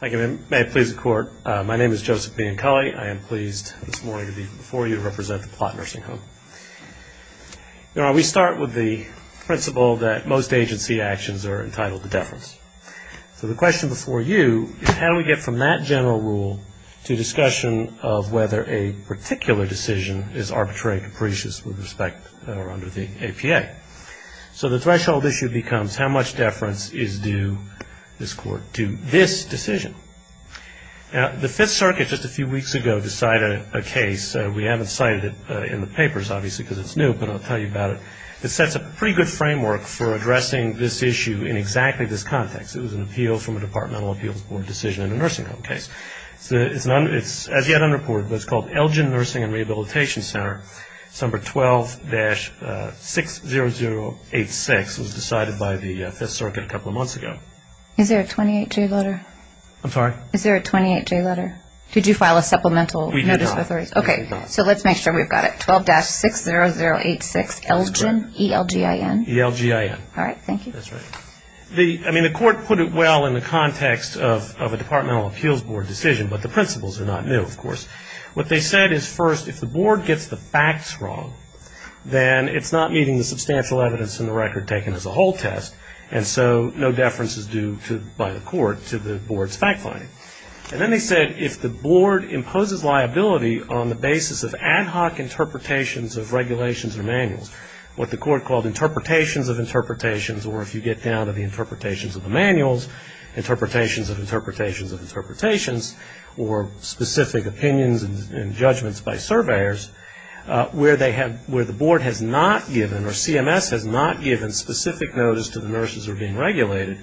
Thank you, ma'am. May it please the Court. My name is Joseph Bianculli. I am pleased this morning to be before you to represent the Plott Nursing Home. Now, we start with the principle that most agency actions are entitled to deference. So the question before you is how do we get from that general rule to discussion of whether a particular decision is arbitrary and capricious with respect or under the APA? So the threshold issue becomes how much deference is due, this Court, to this decision. Now, the Fifth Circuit just a few weeks ago decided a case. We haven't cited it in the papers, obviously, because it's new, but I'll tell you about it. It sets a pretty good framework for addressing this issue in exactly this context. It was an appeal from a Departmental Appeals Board decision in a nursing home case. It's as yet unreported, but it's called Elgin Nursing and the Fifth Circuit a couple of months ago. Is there a 28-J letter? I'm sorry? Is there a 28-J letter? Did you file a supplemental notice of authority? We did not. Okay, so let's make sure we've got it. 12-60086 Elgin, E-L-G-I-N? E-L-G-I-N. All right, thank you. That's right. I mean, the Court put it well in the context of a Departmental Appeals Board decision, but the principles are not new, of course. What they said is first, if the board imposes liability on the basis of ad hoc interpretations of regulations or manuals, what the Court called interpretations of interpretations, or if you get down to the interpretations of the manuals, interpretations of interpretations of interpretations, or specific opinions and judgments by surveyors, where the board has not given, or CMS has not given, specific notice to the nursing home to which nurses are being regulated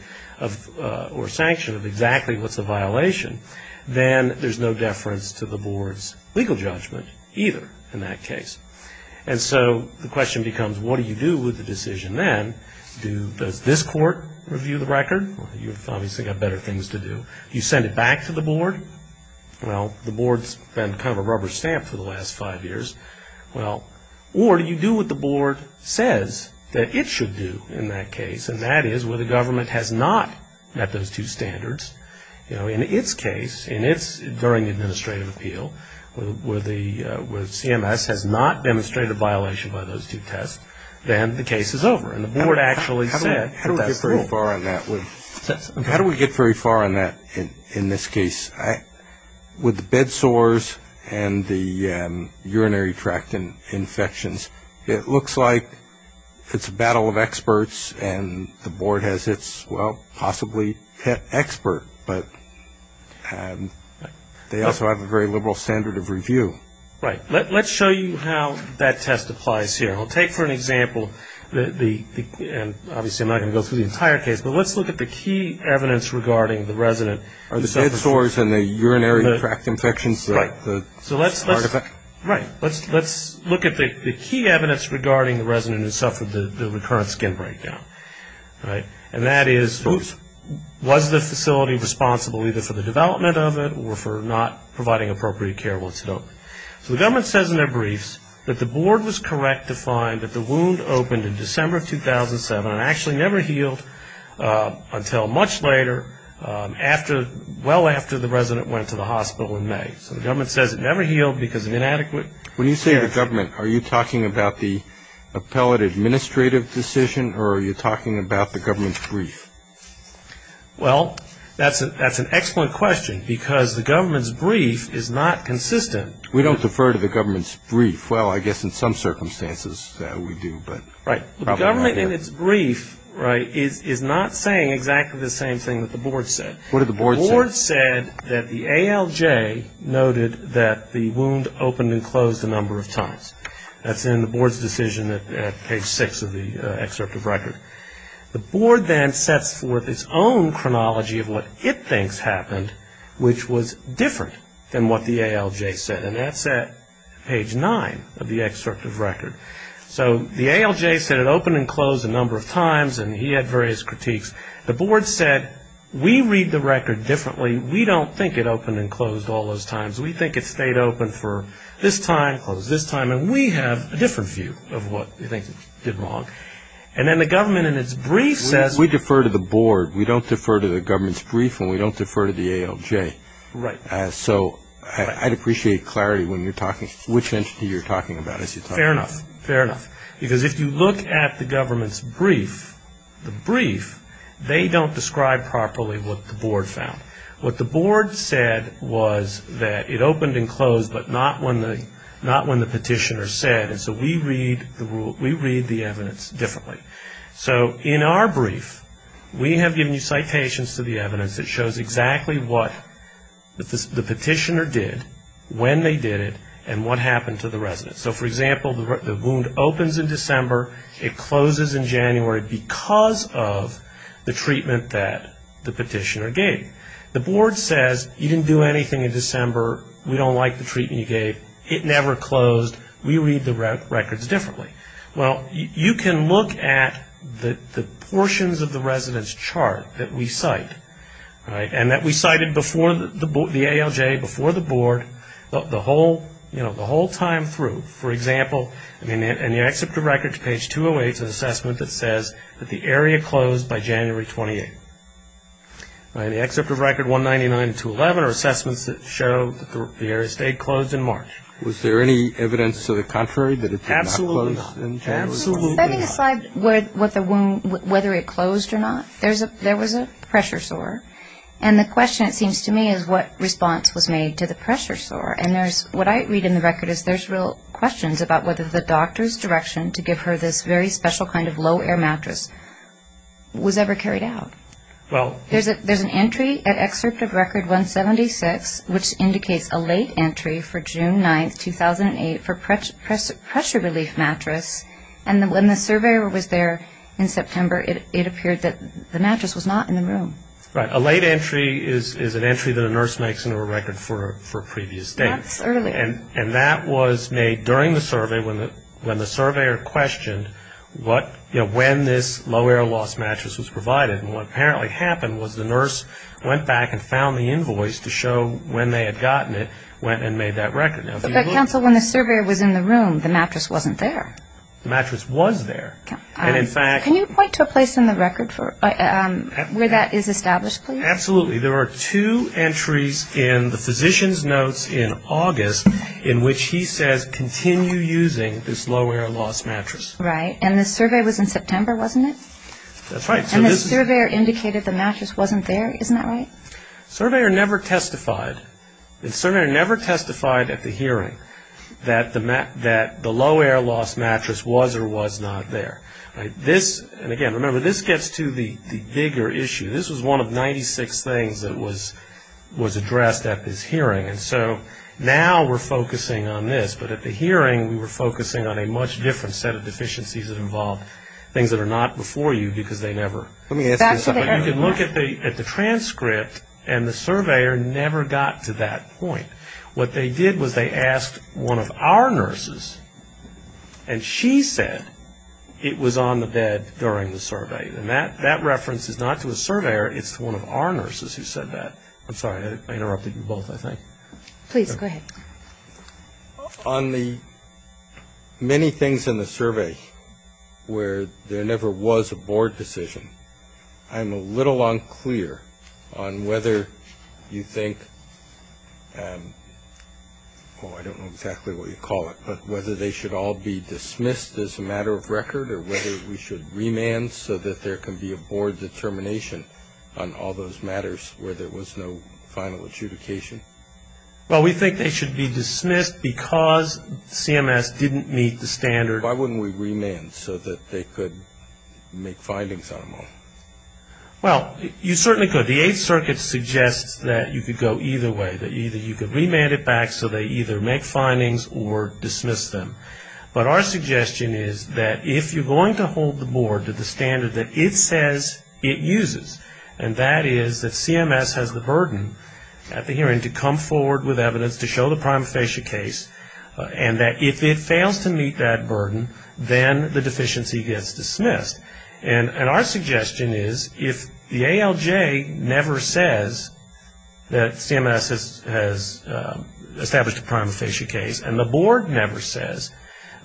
or sanctioned of exactly what's a violation, then there's no deference to the board's legal judgment either in that case. And so the question becomes, what do you do with the decision then? Does this court review the record? You've obviously got better things to do. Do you send it back to the board? Well, the board's been kind of a rubber stamp for the last five years. Or do you do what the board says that it should do in that case? And that is, where the government has not met those two standards, you know, in its case, in its, during administrative appeal, where CMS has not demonstrated a violation by those two tests, then the case is over. And the board actually said that that's the rule. How do we get very far on that? How do we get very far on that in this case? With the bed sores and the urinary tract infections, it looks like it's a battle of experts, and the board has its, well, possibly pet expert, but they also have a very liberal standard of review. Right. Let's show you how that test applies here. I'll take for an example, and obviously I'm not going to go through the entire case, but let's look at the key evidence regarding the resident. Are the bed sores and the urinary tract infections the artifact? Right. Let's look at the key evidence regarding the resident who suffered the recurrent skin breakdown. And that is, was the facility responsible either for the development of it or for not providing appropriate care once it opened? So the government says in their briefs that the board was correct to find that the wound opened in December of 2007 and actually never healed until much later, well after the resident went to the When you say the government, are you talking about the appellate administrative decision or are you talking about the government's brief? Well, that's an excellent question, because the government's brief is not consistent. We don't defer to the government's brief. Well, I guess in some circumstances we do, but probably not here. Right. The government in its brief, right, is not saying exactly the same thing that the board said. What did the board say? The board said that the ALJ noted that the wound opened and closed a number of times. That's in the board's decision at page six of the excerpt of record. The board then sets forth its own chronology of what it thinks happened, which was different than what the ALJ said. And that's at page nine of the excerpt of record. So the ALJ said it opened and closed a number of times, and he had various critiques. The board said, we read the record differently. We don't think it opened and closed all those times. We think it stayed open for this time, closed this time, and we have a different view of what we think did wrong. And then the government in its brief says We defer to the board. We don't defer to the government's brief, and we don't defer to the ALJ. Right. So I'd appreciate clarity when you're talking, which entity you're talking about as you talk. Fair enough. Fair enough. Because if you look at the government's brief, the brief, they don't describe properly what the board found. What the board said was that it opened and closed, but not when the petitioner said. And so we read the evidence differently. So in our brief, we have given you citations to the evidence that shows exactly what the petitioner did, when they did it, and what happened to the resident. So, for example, the wound opens in December. It closes in January because of the treatment that the petitioner gave. The board says, you didn't do anything in December. We don't like the treatment you gave. It never closed. We read the records differently. Well, you can look at the portions of the resident's chart that we cite, right, and that we cited before the ALJ, before the board, the whole time through. For example, in the excerpt of records, page 208, is an assessment that says that the area closed by January 28th. In the excerpt of record 199-211 are assessments that show that the area stayed closed in March. Was there any evidence to the contrary that it did not close in January? Absolutely not. Absolutely not. Setting aside whether it closed or not, there was a pressure sore. And the question, it seems to me, is what response was made to the pressure sore. And what I read in the record is there's real questions about whether the doctor's direction to give her this very special kind of low-air mattress was ever carried out. There's an entry at excerpt of record 176, which indicates a late entry for June 9th, 2008, for pressure relief mattress. And when the surveyor was there in September, it appeared that the mattress was not in the room. Right. A late entry is an entry that a nurse makes into a record for previous dates. That's earlier. And that was made during the survey when the surveyor questioned what, you know, when this low-air loss mattress was provided. And what apparently happened was the nurse went back and found the invoice to show when they had gotten it, went and made that record. But, counsel, when the surveyor was in the room, the mattress wasn't there. The mattress was there. And, in fact – Can you point to a place in the record where that is established, please? Absolutely. There are two entries in the physician's notes in August in which he says continue using this low-air loss mattress. Right. And the survey was in September, wasn't it? That's right. And the surveyor indicated the mattress wasn't there. Isn't that right? The surveyor never testified. The surveyor never testified at the hearing that the low-air loss mattress was or was not there. Right. This – and, again, remember, this gets to the bigger issue. This was one of 96 things that was addressed at this hearing. And so now we're focusing on this. But at the hearing, we were focusing on a much different set of deficiencies that involved things that are not before you because they never – Let me ask you something. You can look at the transcript, and the surveyor never got to that point. What they did was they asked one of our nurses, and she said it was on the bed during the survey. And that reference is not to a surveyor. It's to one of our nurses who said that. I'm sorry. I interrupted you both, I think. Please, go ahead. On the many things in the survey where there never was a board decision, I'm a little unclear on whether you think – oh, I don't know exactly what you call it, but whether they should all be dismissed as a matter of record or whether we should remand so that there can be a board determination on all those matters where there was no final adjudication. Well, we think they should be dismissed because CMS didn't meet the standard. Why wouldn't we remand so that they could make findings on them all? Well, you certainly could. The Eighth Circuit suggests that you could go either way, that either you could remand it back so they either make findings or dismiss them. But our suggestion is that if you're going to hold the board to the standard that it says it uses, and that is that CMS has the burden at the hearing to come forward with evidence to show the prima facie case, and that if it fails to meet that burden, then the deficiency gets dismissed. And our suggestion is if the ALJ never says that CMS has established a prima facie case and the board never says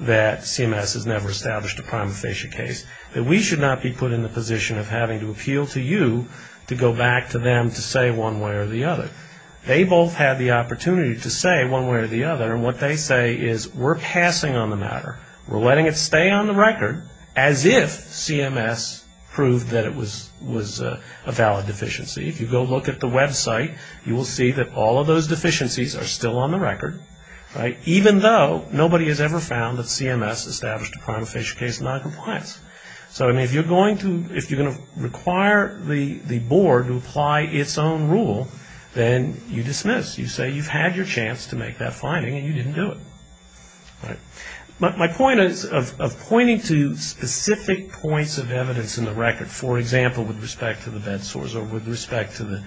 that CMS has never established a prima facie case, that we should not be put in the position of having to appeal to you to go back to them to say one way or the other. They both had the opportunity to say one way or the other, and what they say is we're passing on the matter. We're letting it stay on the record as if CMS proved that it was a valid deficiency. If you go look at the website, you will see that all of those deficiencies are still on the record, right, even though nobody has ever found that CMS established a prima facie case in noncompliance. So, I mean, if you're going to require the board to apply its own rule, then you dismiss. You say you've had your chance to make that finding and you didn't do it. But my point is, of pointing to specific points of evidence in the record, for example, with respect to the bed sores or with respect to the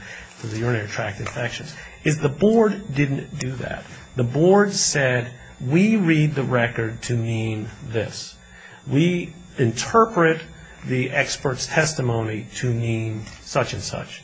urinary tract infections, is the board didn't do that. The board said we read the record to mean this. We interpret the expert's testimony to mean such and such.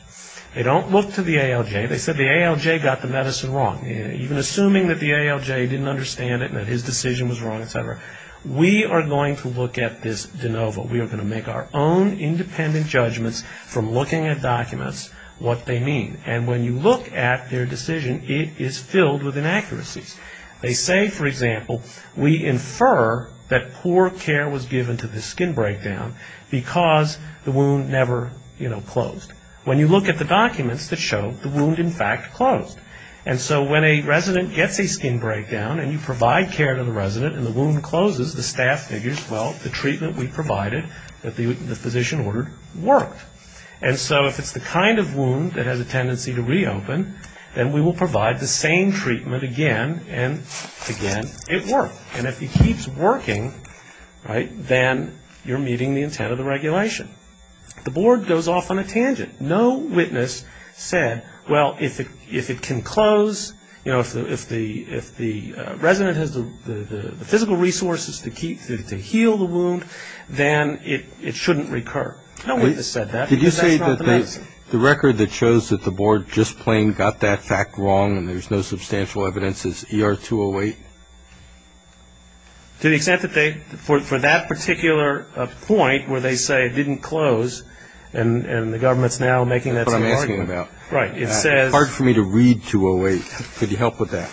They don't look to the ALJ. They said the ALJ got the medicine wrong. Even assuming that the ALJ didn't understand it and that his decision was wrong, et cetera, we are going to look at this de novo. We are going to make our own independent judgments from looking at documents, what they mean. And when you look at their decision, it is filled with inaccuracies. They say, for example, we infer that poor care was given to the skin breakdown because the wound never, you know, closed. When you look at the documents that show the wound, in fact, closed. And so when a resident gets a skin breakdown and you provide care to the resident and the wound closes, the staff figures, well, the treatment we provided, the physician ordered, worked. And so if it's the kind of wound that has a tendency to reopen, then we will provide the same treatment again and again. It worked. And if it keeps working, right, then you're meeting the intent of the regulation. The board goes off on a tangent. No witness said, well, if it can close, you know, if the resident has the physical resources to heal the wound, then it shouldn't recur. No witness said that because that's not the medicine. Did you say that the record that shows that the board just plain got that fact wrong and there's no substantial evidence is ER 208? To the extent that they, for that particular point where they say it didn't close and the government's now making that sort of argument. That's what I'm asking about. Right. It says. It's hard for me to read 208. Could you help with that?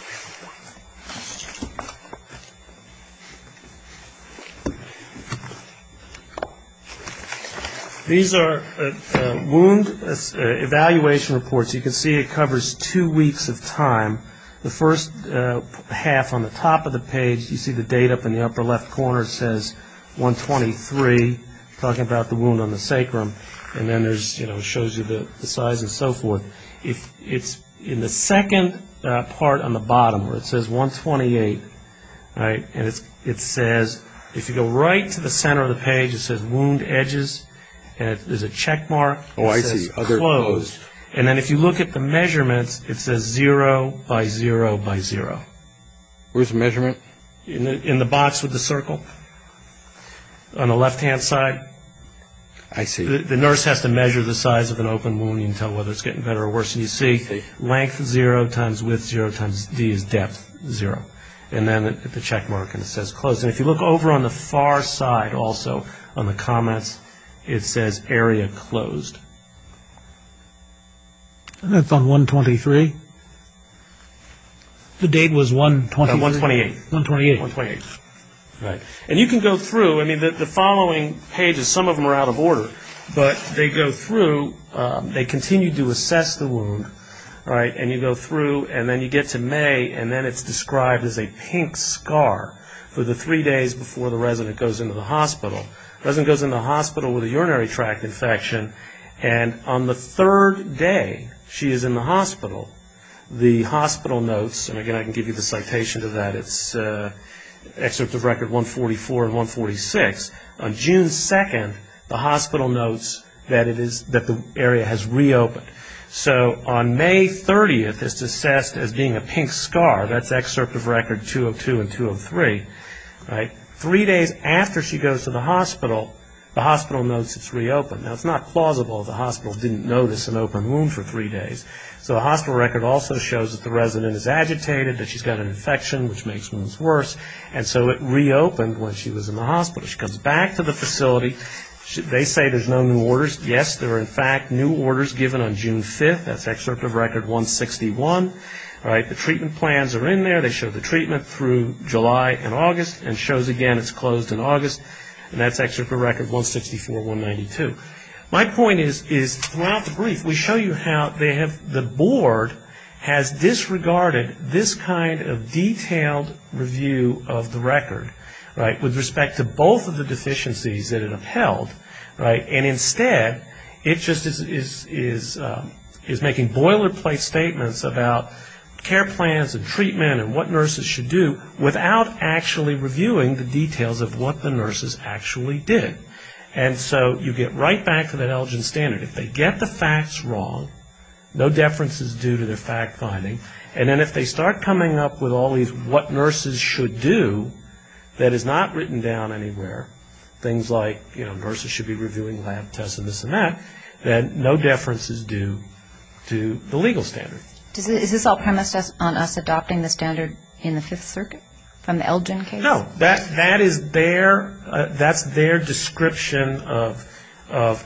These are wound evaluation reports. You can see it covers two weeks of time. The first half on the top of the page, you see the date up in the upper left corner, it says 123, talking about the wound on the sacrum, and then there's, you know, it shows you the size and so forth. It's in the second part on the bottom where it says 128, right, and it says, if you go right to the center of the page, it says wound edges, and there's a checkmark. Oh, I see. It says closed. And then if you look at the measurements, it says zero by zero by zero. Where's the measurement? In the box with the circle on the left-hand side. I see. The nurse has to measure the size of an open wound. You can tell whether it's getting better or worse. And you see length zero times width zero times D is depth zero. And then the checkmark, and it says closed. And if you look over on the far side also on the comments, it says area closed. And that's on 123? The date was 123? No, 128. 128. Right. And you can go through. I mean, the following pages, some of them are out of order, but they go through. They continue to assess the wound, right, and you go through, and then you get to May, and then it's described as a pink scar for the three days before the resident goes into the hospital. The resident goes into the hospital with a urinary tract infection, and on the third day she is in the hospital, the hospital notes, and, again, I can give you the citation to that. It's excerpt of record 144 and 146. On June 2nd, the hospital notes that the area has reopened. So on May 30th, it's assessed as being a pink scar. That's excerpt of record 202 and 203, right? Three days after she goes to the hospital, the hospital notes it's reopened. Now, it's not plausible the hospital didn't notice an open wound for three days. So the hospital record also shows that the resident is agitated, that she's got an infection, which makes wounds worse, and so it reopened when she was in the hospital. She comes back to the facility. They say there's no new orders. Yes, there are, in fact, new orders given on June 5th. That's excerpt of record 161, right? The treatment plans are in there. They show the treatment through July and August and shows, again, it's closed in August, and that's excerpt of record 164, 192. My point is, throughout the brief, we show you how the board has disregarded this kind of detailed review of the record, right, with respect to both of the deficiencies that it upheld, right, and instead it just is making boilerplate statements about care plans and treatment and what nurses should do without actually reviewing the details of what the nurses actually did. And so you get right back to that Elgin standard. If they get the facts wrong, no deference is due to their fact-finding, and then if they start coming up with all these what nurses should do that is not written down anywhere, things like, you know, nurses should be reviewing lab tests and this and that, then no deference is due to the legal standard. Is this all premised on us adopting the standard in the Fifth Circuit from the Elgin case? No. That is their description of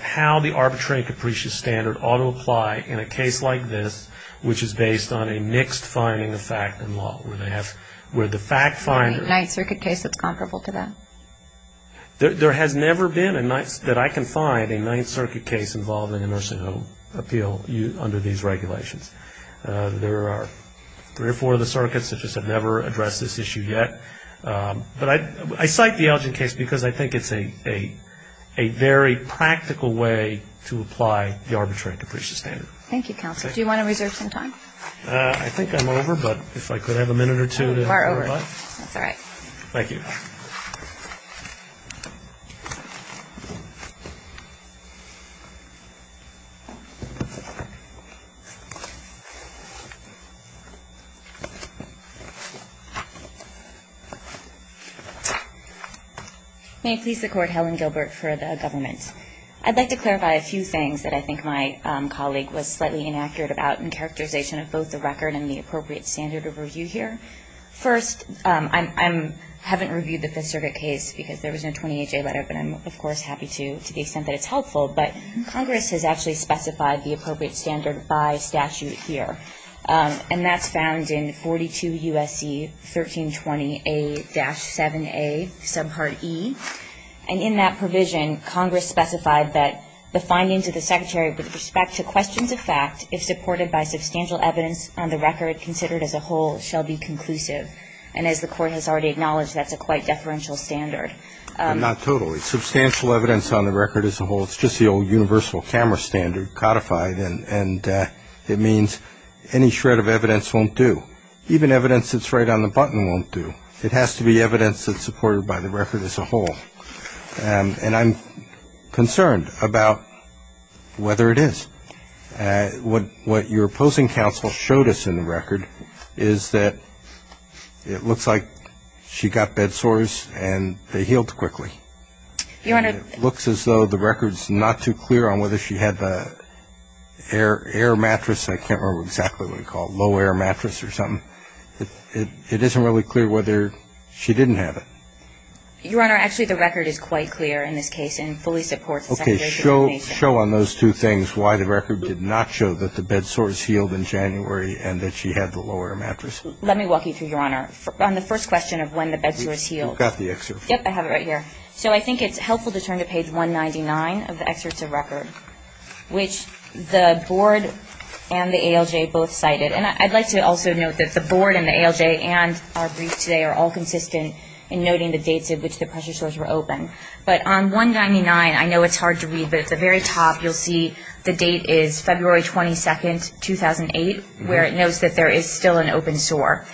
how the arbitrary and capricious standard ought to apply in a case like this, which is based on a mixed finding of fact and law, where the fact finder – A Ninth Circuit case that's comparable to that. There has never been a Ninth – that I can find a Ninth Circuit case involving a nursing home appeal under these regulations. There are three or four of the circuits that just have never addressed this issue yet. But I cite the Elgin case because I think it's a very practical way to apply the arbitrary and capricious standard. Thank you, counsel. Do you want to reserve some time? I think I'm over, but if I could have a minute or two. We're over. That's all right. Thank you. May it please the Court, Helen Gilbert for the government. I'd like to clarify a few things that I think my colleague was slightly inaccurate about in characterization of both the record and the appropriate standard of review here. First, I haven't reviewed the Fifth Circuit case because there was no 28-J letter, but I'm, of course, happy to, to the extent that it's helpful. But Congress has actually specified the appropriate standard by statute here. And that's found in 42 U.S.C. 1320A-7A subpart E. And in that provision, Congress specified that the findings of the Secretary with respect to questions of fact, if supported by substantial evidence on the record considered as a whole, shall be conclusive. And as the Court has already acknowledged, that's a quite deferential standard. Not totally. Substantial evidence on the record as a whole. It's just the old universal camera standard codified. And it means any shred of evidence won't do. Even evidence that's right on the button won't do. It has to be evidence that's supported by the record as a whole. And I'm concerned about whether it is. What your opposing counsel showed us in the record is that it looks like she got bed sores and they healed quickly. Your Honor. It looks as though the record's not too clear on whether she had the air mattress. I can't remember exactly what it's called, low air mattress or something. It isn't really clear whether she didn't have it. Your Honor, actually, the record is quite clear in this case and fully supports the Secretary's explanation. Okay. Show on those two things why the record did not show that the bed sores healed in January and that she had the low air mattress. Let me walk you through, Your Honor, on the first question of when the bed sores healed. We've got the excerpt. Yep, I have it right here. So I think it's helpful to turn to page 199 of the excerpt to record, which the board and the ALJ both cited. And I'd like to also note that the board and the ALJ and our brief today are all consistent in noting the dates at which the pressure sores were open. But on 199, I know it's hard to read, but at the very top you'll see the date is February 22, 2008, where it notes that there is still an open sore.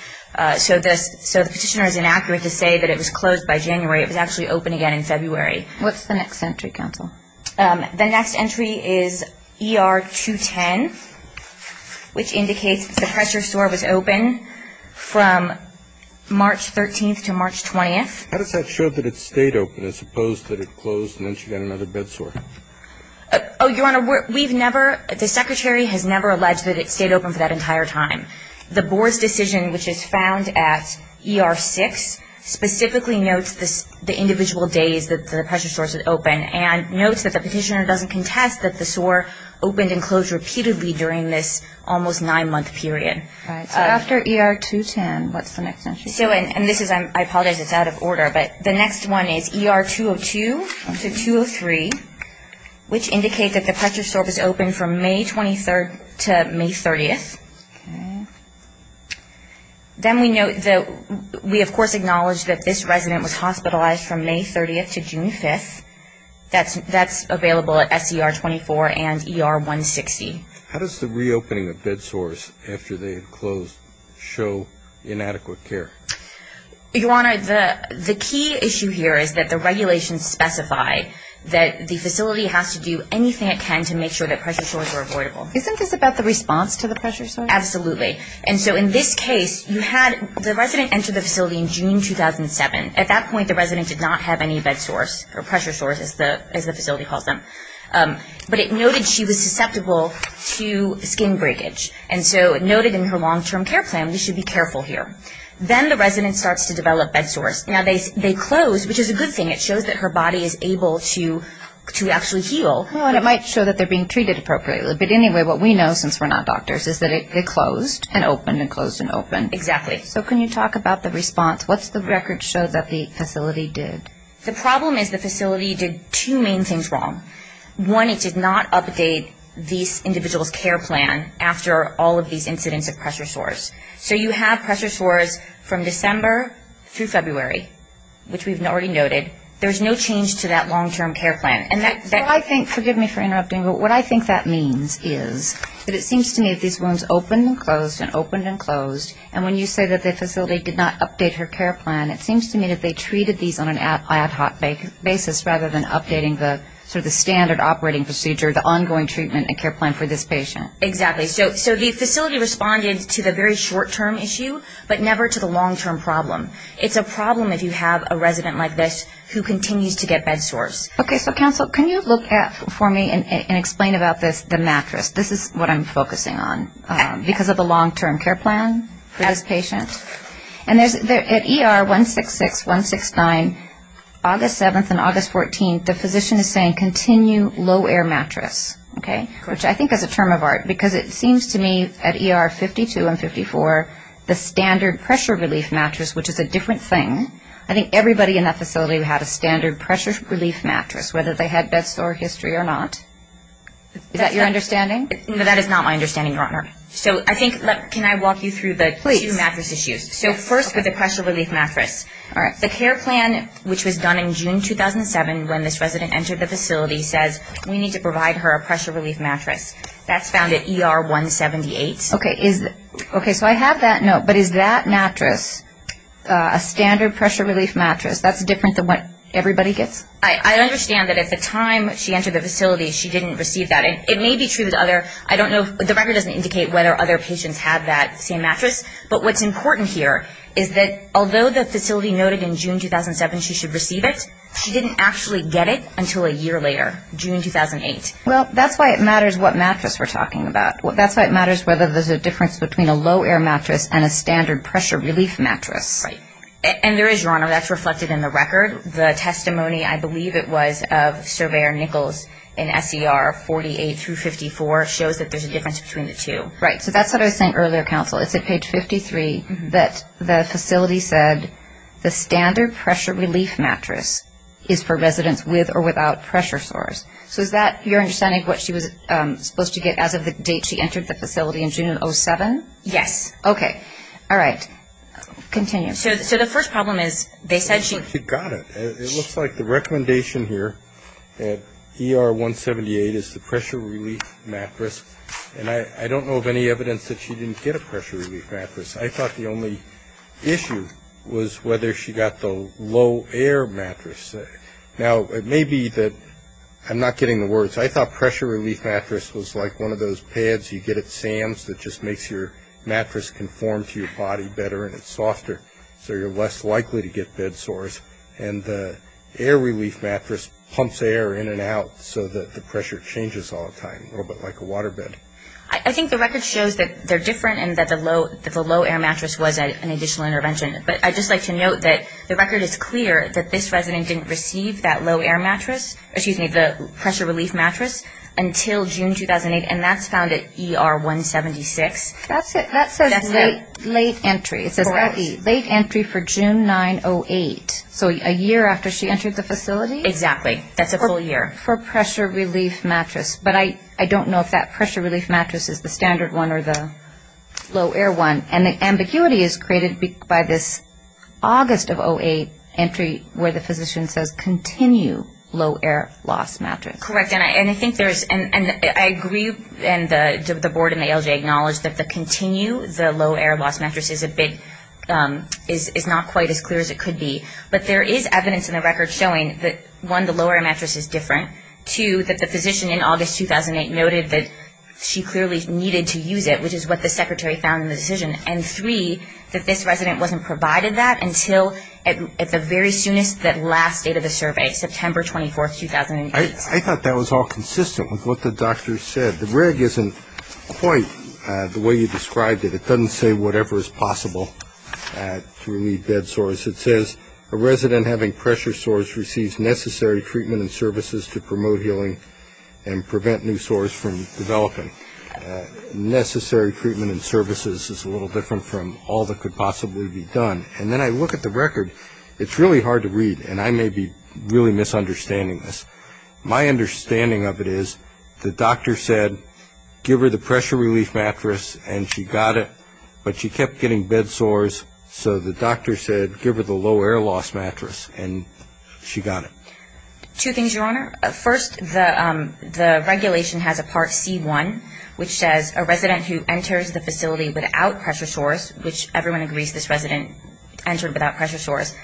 So the petitioner is inaccurate to say that it was closed by January. It was actually open again in February. What's the next entry, counsel? The next entry is ER 210, which indicates the pressure sore was open from March 13th to March 20th. How does that show that it stayed open as opposed to that it closed and then she got another bed sore? Oh, Your Honor, we've never – the Secretary has never alleged that it stayed open for that entire time. The board's decision, which is found at ER 6, specifically notes the individual days that the pressure sores had opened and notes that the petitioner doesn't contest that the sore opened and closed repeatedly during this almost nine-month period. So after ER 210, what's the next entry? And this is – I apologize, it's out of order. But the next one is ER 202 to 203, which indicates that the pressure sore was open from May 23rd to May 30th. Okay. Then we note that we, of course, acknowledge that this resident was hospitalized from May 30th to June 5th. That's available at SCR 24 and ER 160. How does the reopening of bed sores after they had closed show inadequate care? Your Honor, the key issue here is that the regulations specify that the facility has to do anything it can to make sure that pressure sores are avoidable. Isn't this about the response to the pressure sores? Absolutely. And so in this case, you had – the resident entered the facility in June 2007. At that point, the resident did not have any bed sores or pressure sores, as the facility calls them. But it noted she was susceptible to skin breakage. And so it noted in her long-term care plan we should be careful here. Then the resident starts to develop bed sores. Now, they closed, which is a good thing. It shows that her body is able to actually heal. Well, and it might show that they're being treated appropriately. But anyway, what we know, since we're not doctors, is that they closed and opened and closed and opened. Exactly. So can you talk about the response? What's the record show that the facility did? The problem is the facility did two main things wrong. One, it did not update this individual's care plan after all of these incidents of pressure sores. So you have pressure sores from December through February, which we've already noted. There's no change to that long-term care plan. Well, I think – forgive me for interrupting, but what I think that means is that it seems to me that these wounds opened and closed and opened and closed. And when you say that the facility did not update her care plan, it seems to me that they treated these on an ad hoc basis rather than updating the standard operating procedure, the ongoing treatment and care plan for this patient. Exactly. So the facility responded to the very short-term issue, but never to the long-term problem. It's a problem if you have a resident like this who continues to get bed sores. Okay. So, counsel, can you look for me and explain about this, the mattress? This is what I'm focusing on because of the long-term care plan for this patient. And at ER 166, 169, August 7th and August 14th, the physician is saying, Okay, which I think is a term of art because it seems to me at ER 52 and 54, the standard pressure relief mattress, which is a different thing, I think everybody in that facility had a standard pressure relief mattress, whether they had bed sore history or not. Is that your understanding? That is not my understanding, Your Honor. So I think – can I walk you through the two mattress issues? Please. So first with the pressure relief mattress. All right. The care plan, which was done in June 2007 when this resident entered the facility, says we need to provide her a pressure relief mattress. That's found at ER 178. Okay. So I have that note, but is that mattress a standard pressure relief mattress? That's different than what everybody gets? I understand that at the time she entered the facility, she didn't receive that. It may be true that other – I don't know. The record doesn't indicate whether other patients have that same mattress. But what's important here is that although the facility noted in June 2007 she should receive it, she didn't actually get it until a year later, June 2008. Well, that's why it matters what mattress we're talking about. That's why it matters whether there's a difference between a low-air mattress and a standard pressure relief mattress. Right. And there is, Your Honor. That's reflected in the record. The testimony, I believe it was, of Surveyor Nichols in SER 48 through 54 shows that there's a difference between the two. Right. So that's what I was saying earlier, counsel. It's at page 53 that the facility said, the standard pressure relief mattress is for residents with or without pressure sores. So is that your understanding of what she was supposed to get as of the date she entered the facility in June 2007? Yes. Okay. All right. Continue. So the first problem is they said she – She got it. It looks like the recommendation here at ER 178 is the pressure relief mattress. And I don't know of any evidence that she didn't get a pressure relief mattress. I thought the only issue was whether she got the low-air mattress. Now, it may be that – I'm not getting the words. I thought pressure relief mattress was like one of those pads you get at Sam's that just makes your mattress conform to your body better and it's softer, so you're less likely to get bed sores. And the air relief mattress pumps air in and out so that the pressure changes all the time, so it's a little bit like a water bed. I think the record shows that they're different and that the low-air mattress was an additional intervention. But I'd just like to note that the record is clear that this resident didn't receive that low-air mattress – excuse me, the pressure relief mattress until June 2008, and that's found at ER 176. That says late entry. It says late entry for June 9-08. So a year after she entered the facility? Exactly. That's a full year. For pressure relief mattress. But I don't know if that pressure relief mattress is the standard one or the low-air one. And the ambiguity is created by this August of 2008 entry where the physician says, continue low-air loss mattress. Correct. And I think there's – and I agree, and the board and the ALJ acknowledge that the continue, the low-air loss mattress is a bit – is not quite as clear as it could be. But there is evidence in the record showing that, one, the low-air mattress is different. Two, that the physician in August 2008 noted that she clearly needed to use it, which is what the secretary found in the decision. And three, that this resident wasn't provided that until at the very soonest, that last date of the survey, September 24, 2008. I thought that was all consistent with what the doctor said. The reg isn't quite the way you described it. It doesn't say whatever is possible to relieve bed sores. It says a resident having pressure sores receives necessary treatment and services to promote healing and prevent new sores from developing. Necessary treatment and services is a little different from all that could possibly be done. And then I look at the record. It's really hard to read, and I may be really misunderstanding this. My understanding of it is the doctor said, give her the pressure relief mattress, and she got it. But she kept getting bed sores, so the doctor said, give her the low-air loss mattress, and she got it. Two things, Your Honor. First, the regulation has a Part C1, which says, a resident who enters the facility without pressure sores, which everyone agrees this resident entered without pressure sores,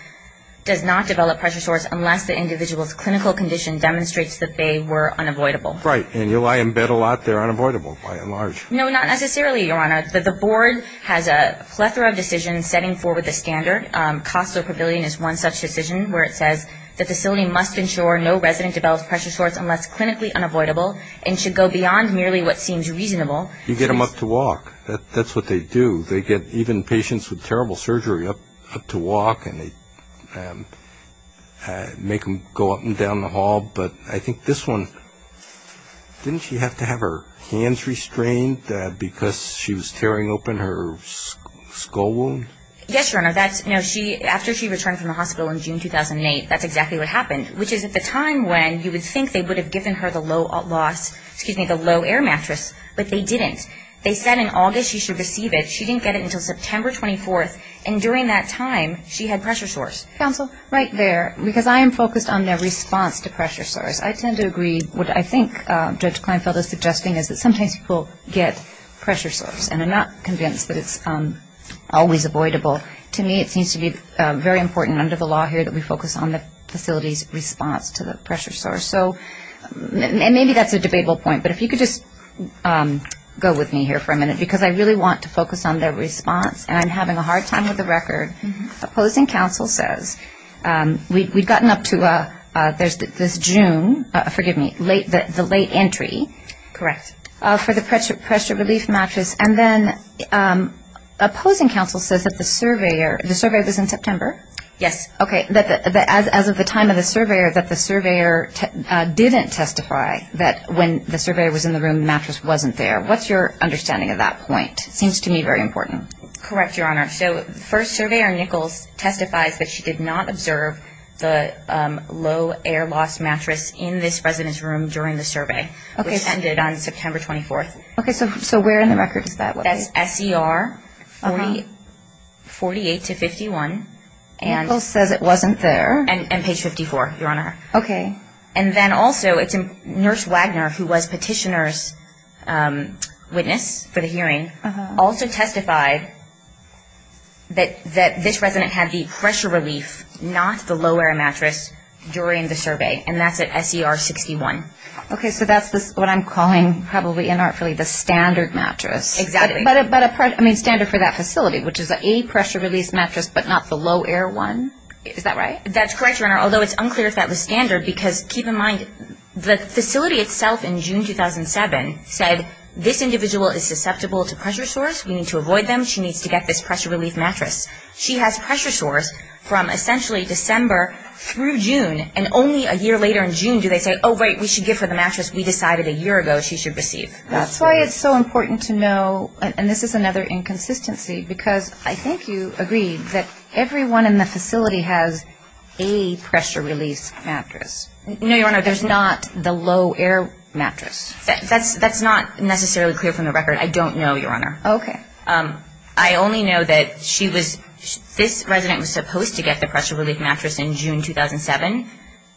does not develop pressure sores unless the individual's clinical condition demonstrates that they were unavoidable. Right. And you lie in bed a lot, they're unavoidable by and large. No, not necessarily, Your Honor. The board has a plethora of decisions setting forward the standard. Costal Pavilion is one such decision where it says, the facility must ensure no resident develops pressure sores unless clinically unavoidable and should go beyond merely what seems reasonable. You get them up to walk. That's what they do. They get even patients with terrible surgery up to walk, and they make them go up and down the hall. But I think this one, didn't she have to have her hands restrained because she was tearing open her skull wound? Yes, Your Honor. After she returned from the hospital in June 2008, that's exactly what happened, which is at the time when you would think they would have given her the low-air mattress, but they didn't. They said in August she should receive it. She didn't get it until September 24th, and during that time, she had pressure sores. Right there, because I am focused on their response to pressure sores. I tend to agree. What I think Judge Kleinfeld is suggesting is that sometimes people get pressure sores and are not convinced that it's always avoidable. To me, it seems to be very important under the law here that we focus on the facility's response to the pressure sores. So maybe that's a debatable point, but if you could just go with me here for a minute, because I really want to focus on their response, and I'm having a hard time with the record. Opposing counsel says we've gotten up to this June, forgive me, the late entry. Correct. For the pressure relief mattress, and then opposing counsel says that the surveyor was in September. Yes. Okay. As of the time of the surveyor, that the surveyor didn't testify that when the surveyor was in the room, the mattress wasn't there. What's your understanding of that point? It seems to me very important. Correct, Your Honor. So the first surveyor, Nichols, testifies that she did not observe the low air loss mattress in this resident's room during the survey, which ended on September 24th. Okay, so where in the record is that? That's SCR 48 to 51. Nichols says it wasn't there. And page 54, Your Honor. Okay. And then also, it's Nurse Wagner, who was petitioner's witness for the hearing, also testified that this resident had the pressure relief, not the low air mattress, during the survey. And that's at SCR 61. Okay, so that's what I'm calling probably inartfully the standard mattress. Exactly. But a standard for that facility, which is a pressure relief mattress, but not the low air one. Is that right? That's correct, Your Honor. Although it's unclear if that was standard, because keep in mind, the facility itself in June 2007 said, this individual is susceptible to pressure sores. We need to avoid them. She needs to get this pressure relief mattress. She has pressure sores from essentially December through June, and only a year later in June do they say, oh, right, we should give her the mattress we decided a year ago she should receive. That's why it's so important to know, and this is another inconsistency, because I think you agreed that everyone in the facility has a pressure relief mattress. No, Your Honor, there's not the low air mattress. That's not necessarily clear from the record. I don't know, Your Honor. Okay. I only know that this resident was supposed to get the pressure relief mattress in June 2007.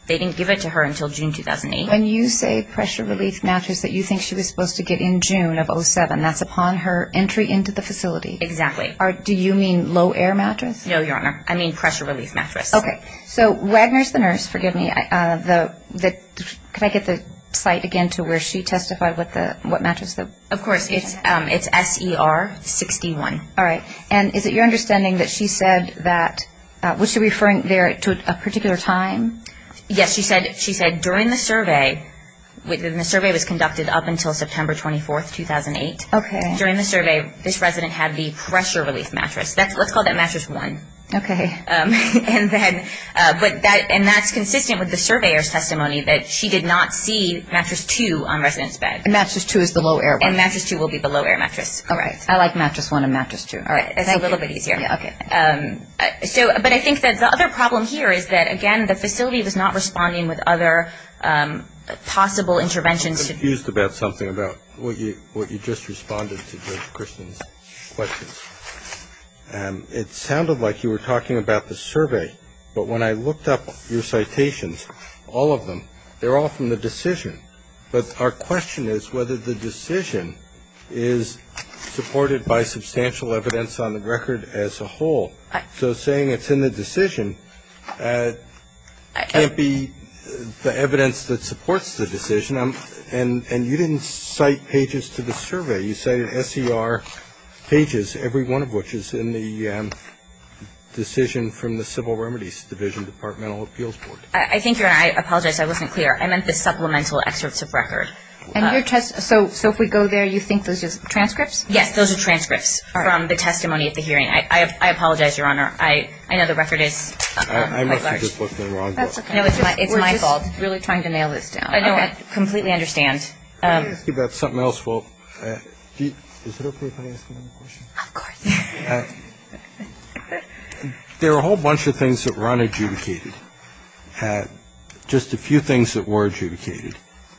They didn't give it to her until June 2008. When you say pressure relief mattress that you think she was supposed to get in June of 07, that's upon her entry into the facility. Exactly. Do you mean low air mattress? No, Your Honor. I mean pressure relief mattress. Okay. So Wagner is the nurse. Forgive me. Can I get the site again to where she testified, what mattress? Of course. It's SER 61. All right. And is it your understanding that she said that, was she referring there to a particular time? Yes. She said during the survey, and the survey was conducted up until September 24, 2008. Okay. During the survey, this resident had the pressure relief mattress. Let's call that mattress one. Okay. And that's consistent with the surveyor's testimony that she did not see mattress two on the resident's bed. And mattress two is the low air one. And mattress two will be the low air mattress. All right. I like mattress one and mattress two. All right. It's a little bit easier. Okay. But I think that the other problem here is that, again, the facility was not responding with other possible interventions. I'm confused about something about what you just responded to Judge Christian's questions. It sounded like you were talking about the survey. But when I looked up your citations, all of them, they're all from the decision. But our question is whether the decision is supported by substantial evidence on the record as a whole. So saying it's in the decision can't be the evidence that supports the decision. And you didn't cite pages to the survey. You cited S.E.R. pages, every one of which is in the decision from the Civil Remedies Division Departmental Appeals Board. I think, Your Honor, I apologize. I wasn't clear. I meant the supplemental excerpts of record. So if we go there, you think those are transcripts? Yes, those are transcripts from the testimony at the hearing. I apologize, Your Honor. I know the record is quite large. I must have just looked in the wrong book. That's okay. It's my fault. We're just really trying to nail this down. I know. I completely understand. Can I ask you about something else? Is it okay if I ask another question? Of course. There are a whole bunch of things that were unadjudicated, just a few things that were adjudicated.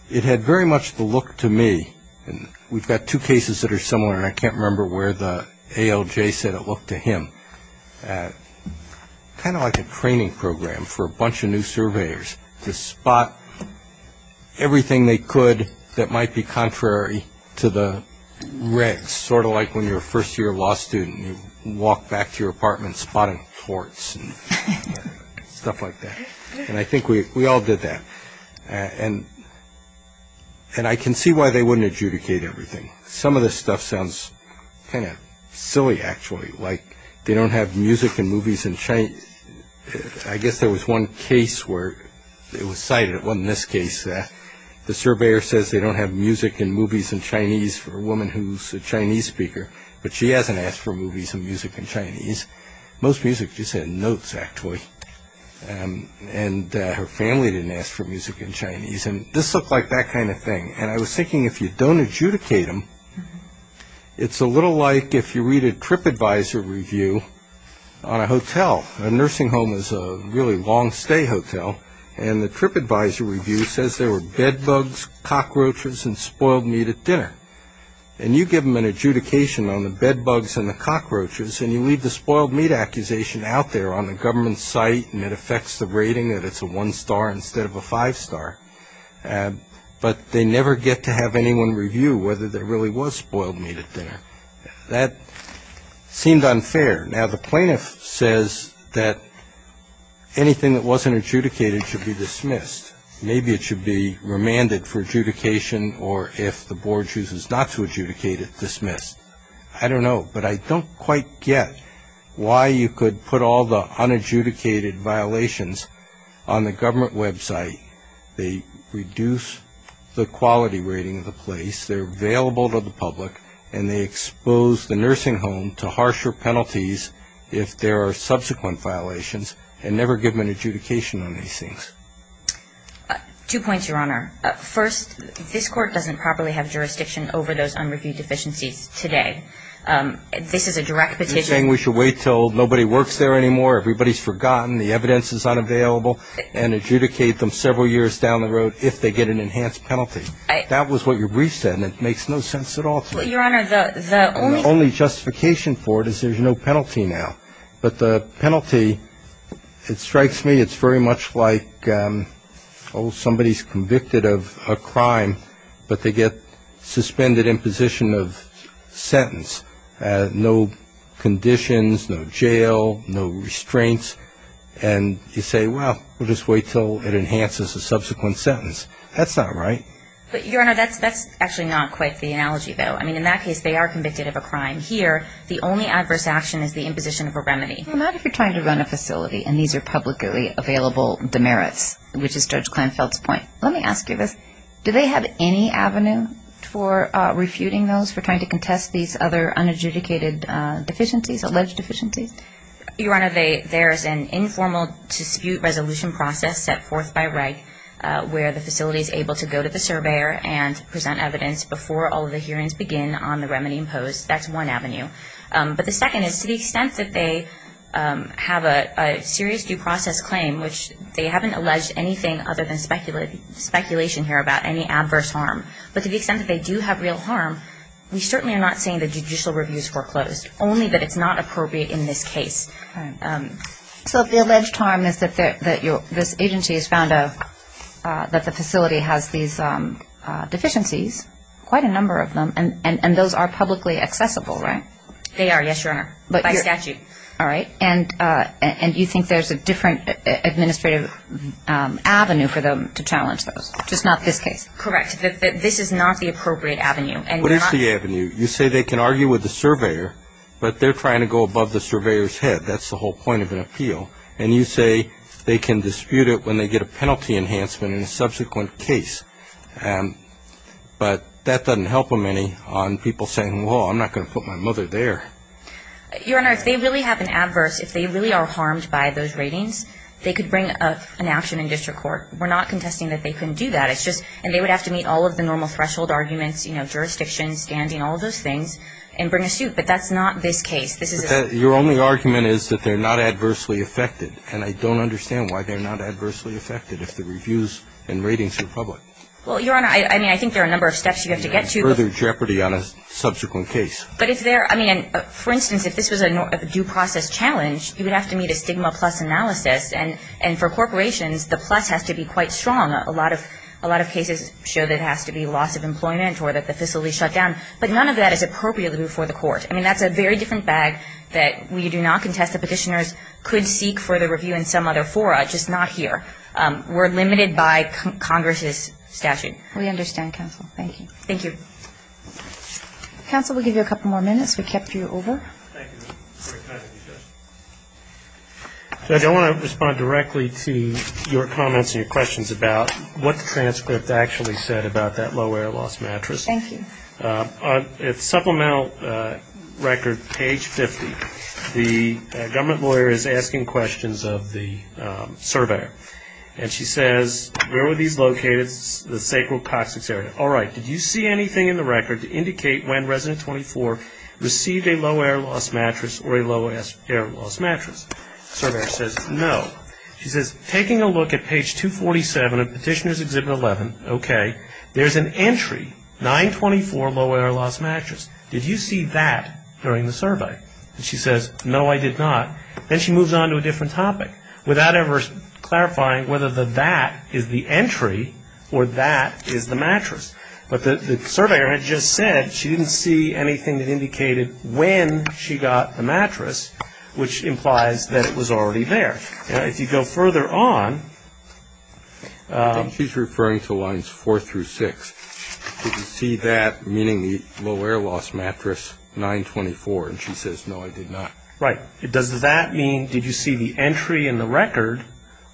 It had very much the look to me, and we've got two cases that are similar, and I can't remember where the ALJ said it looked to him, kind of like a training program for a bunch of new surveyors to spot everything they could that might be contrary to the regs, sort of like when you're a first-year law student and you walk back to your apartment spotting torts and stuff like that. And I think we all did that. And I can see why they wouldn't adjudicate everything. Some of this stuff sounds kind of silly, actually, like they don't have music and movies in Chinese. I guess there was one case where it was cited. It wasn't this case. The surveyor says they don't have music and movies in Chinese for a woman who's a Chinese speaker, but she hasn't asked for movies and music in Chinese. Most music is in notes, actually, and her family didn't ask for music in Chinese. And this looked like that kind of thing, and I was thinking if you don't adjudicate them, It's a little like if you read a TripAdvisor review on a hotel. A nursing home is a really long-stay hotel, and the TripAdvisor review says there were bedbugs, cockroaches, and spoiled meat at dinner. And you give them an adjudication on the bedbugs and the cockroaches, and you leave the spoiled meat accusation out there on the government site, and it affects the rating that it's a one-star instead of a five-star. But they never get to have anyone review whether there really was spoiled meat at dinner. That seemed unfair. Now, the plaintiff says that anything that wasn't adjudicated should be dismissed. Maybe it should be remanded for adjudication, or if the board chooses not to adjudicate it, dismissed. I don't know, but I don't quite get why you could put all the unadjudicated violations on the government website. I mean, that's the way it is. It's the way it should be. They reduce the quality rating of the place, they're available to the public, and they expose the nursing home to harsher penalties if there are subsequent violations and never give them an adjudication on these things. Two points, Your Honor. First, this Court doesn't properly have jurisdiction over those unreviewed deficiencies today. This is a direct petition. You're saying we should wait until nobody works there anymore, everybody's forgotten, the evidence is unavailable, and adjudicate them several years down the road if they get an enhanced penalty. That was what your brief said, and it makes no sense at all to me. Your Honor, the only – The only justification for it is there's no penalty now. But the penalty, it strikes me, it's very much like, oh, somebody's convicted of a crime, but they get suspended imposition of sentence, no conditions, no jail, no restraints, and you say, well, we'll just wait until it enhances the subsequent sentence. That's not right. But, Your Honor, that's actually not quite the analogy, though. I mean, in that case, they are convicted of a crime. Here, the only adverse action is the imposition of a remedy. Well, not if you're trying to run a facility, and these are publicly available demerits, which is Judge Kleinfeld's point. Let me ask you this. Do they have any avenue for refuting those, for trying to contest these other unadjudicated deficiencies, alleged deficiencies? Your Honor, there is an informal dispute resolution process set forth by REG where the facility is able to go to the surveyor and present evidence before all of the hearings begin on the remedy imposed. That's one avenue. But the second is to the extent that they have a serious due process claim, which they haven't alleged anything other than speculation here about any adverse harm, but to the extent that they do have real harm, we certainly are not saying that judicial review is foreclosed, only that it's not appropriate in this case. So the alleged harm is that this agency has found that the facility has these deficiencies, quite a number of them, and those are publicly accessible, right? They are, yes, Your Honor, by statute. All right. And you think there's a different administrative avenue for them to challenge those, just not this case? Correct. This is not the appropriate avenue. What is the avenue? You say they can argue with the surveyor, but they're trying to go above the surveyor's head. That's the whole point of an appeal. And you say they can dispute it when they get a penalty enhancement in a subsequent case. But that doesn't help them any on people saying, well, I'm not going to put my mother there. Your Honor, if they really have an adverse, if they really are harmed by those ratings, they could bring an action in district court. We're not contesting that they couldn't do that. It's just, and they would have to meet all of the normal threshold arguments, you know, jurisdiction, standing, all of those things, and bring a suit. But that's not this case. This is a ---- Your only argument is that they're not adversely affected, and I don't understand why they're not adversely affected if the reviews and ratings are public. Well, Your Honor, I mean, I think there are a number of steps you have to get to. Further jeopardy on a subsequent case. But if there, I mean, for instance, if this was a due process challenge, you would have to meet a stigma plus analysis. And for corporations, the plus has to be quite strong. A lot of cases show that it has to be loss of employment or that the facility is shut down. But none of that is appropriate before the court. I mean, that's a very different bag that we do not contest that petitioners could seek for the review in some other fora, just not here. We're limited by Congress's statute. We understand, counsel. Thank you. Thank you. Counsel, we'll give you a couple more minutes. We kept you over. Thank you. Very kind of you, Judge. Judge, I want to respond directly to your comments and your questions about what the transcript actually said about that low-air loss mattress. Thank you. On supplemental record, page 50, the government lawyer is asking questions of the surveyor. And she says, where were these located? The sacred toxics area. All right, did you see anything in the record to indicate when Resident 24 received a low-air loss mattress or a low-air loss mattress? Surveyor says, no. She says, taking a look at page 247 of Petitioner's Exhibit 11, okay, there's an entry, 924, low-air loss mattress. Did you see that during the survey? She says, no, I did not. Then she moves on to a different topic, without ever clarifying whether the that is the entry or that is the mattress. But the surveyor had just said she didn't see anything that indicated when she got the mattress, which implies that it was already there. If you go further on. I think she's referring to lines four through six. Did you see that, meaning the low-air loss mattress, 924? And she says, no, I did not. Right. Does that mean, did you see the entry in the record,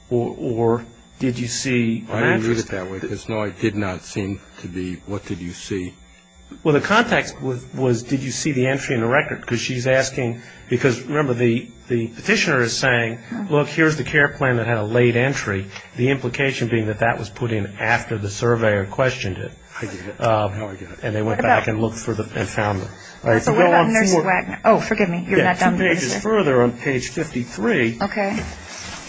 or did you see the mattress? I didn't read it that way, because, no, it did not seem to be, what did you see? Well, the context was, did you see the entry in the record? Because she's asking, because remember, the petitioner is saying, look, here's the care plan that had a late entry, the implication being that that was put in after the surveyor questioned it. I get it. Now I get it. And they went back and looked for it and found it. So what about Nurse Wagner? Oh, forgive me. You're not done. Two pages further on page 53. Okay.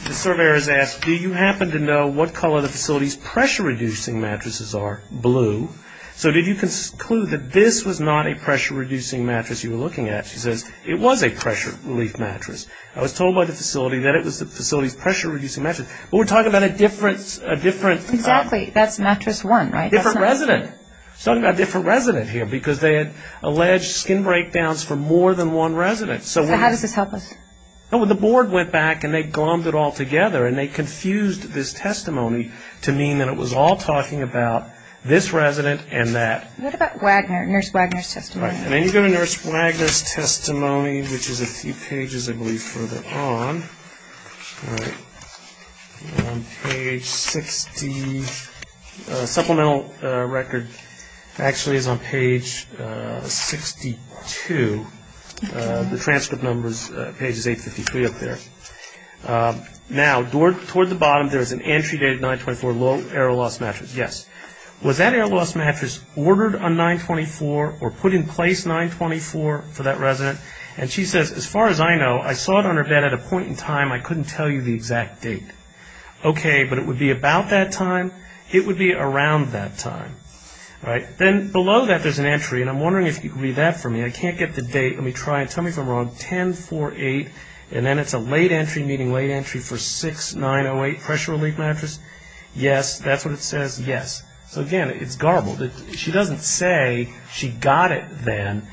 The surveyor is asked, do you happen to know what color the facility's pressure-reducing mattresses are? Blue. So did you conclude that this was not a pressure-reducing mattress you were looking at? She says, it was a pressure-relief mattress. I was told by the facility that it was the facility's pressure-reducing mattress. But we're talking about a different. Exactly. That's mattress one, right? Different resident. We're talking about a different resident here because they had alleged skin breakdowns for more than one resident. So how does this help us? The board went back and they glommed it all together, and they confused this testimony to mean that it was all talking about this resident and that. What about Nurse Wagner's testimony? And then you go to Nurse Wagner's testimony, which is a few pages, I believe, further on. All right. Page 60. Supplemental record actually is on page 62. The transcript number is pages 853 up there. Now, toward the bottom there is an entry date of 924, low error loss mattress. Yes. Was that error loss mattress ordered on 924 or put in place 924 for that resident? And she says, as far as I know, I saw it on her bed at a point in time I couldn't tell you the exact date. Okay. But it would be about that time? It would be around that time. All right. Then below that there's an entry, and I'm wondering if you could read that for me. I can't get the date. Let me try it. Tell me if I'm wrong. 10-4-8, and then it's a late entry, meaning late entry for 6-9-0-8 pressure-relief mattress? Yes. That's what it says? Yes. So, again, it's garbled. She doesn't say she got it then.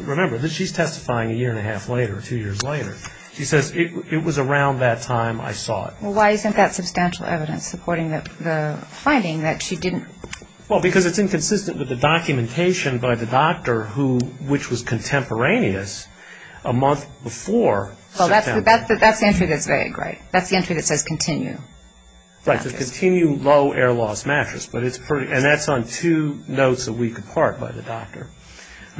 Remember, she's testifying a year and a half later, two years later. She says, it was around that time I saw it. Well, why isn't that substantial evidence supporting the finding that she didn't? Well, because it's inconsistent with the documentation by the doctor, which was contemporaneous, a month before September. Well, that's the entry that's vague, right? That's the entry that says continue. Right, the continue low air loss mattress, and that's on two notes a week apart by the doctor.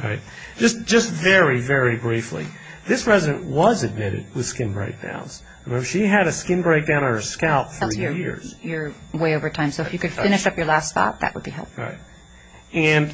All right. Just very, very briefly, this resident was admitted with skin breakdowns. Remember, she had a skin breakdown on her scalp for years. That's way over time, so if you could finish up your last thought, that would be helpful. All right. And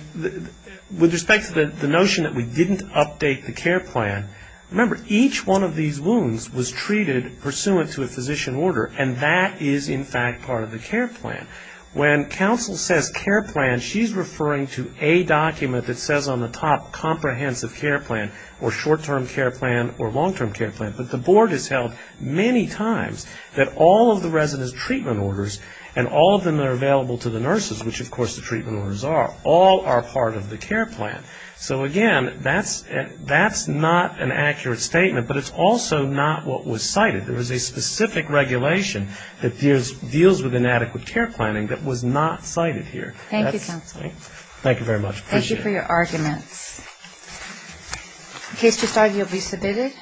with respect to the notion that we didn't update the care plan, remember, each one of these wounds was treated pursuant to a physician order, and that is, in fact, part of the care plan. When counsel says care plan, she's referring to a document that says on the top, comprehensive care plan, or short-term care plan, or long-term care plan. But the board has held many times that all of the resident's treatment orders, and all of them that are available to the nurses, which, of course, the treatment orders are, all are part of the care plan. So, again, that's not an accurate statement, but it's also not what was cited. There was a specific regulation that deals with inadequate care planning that was not cited here. Thank you, counsel. Thank you very much. Appreciate it. Thank you for your arguments. The case to start will be submitted.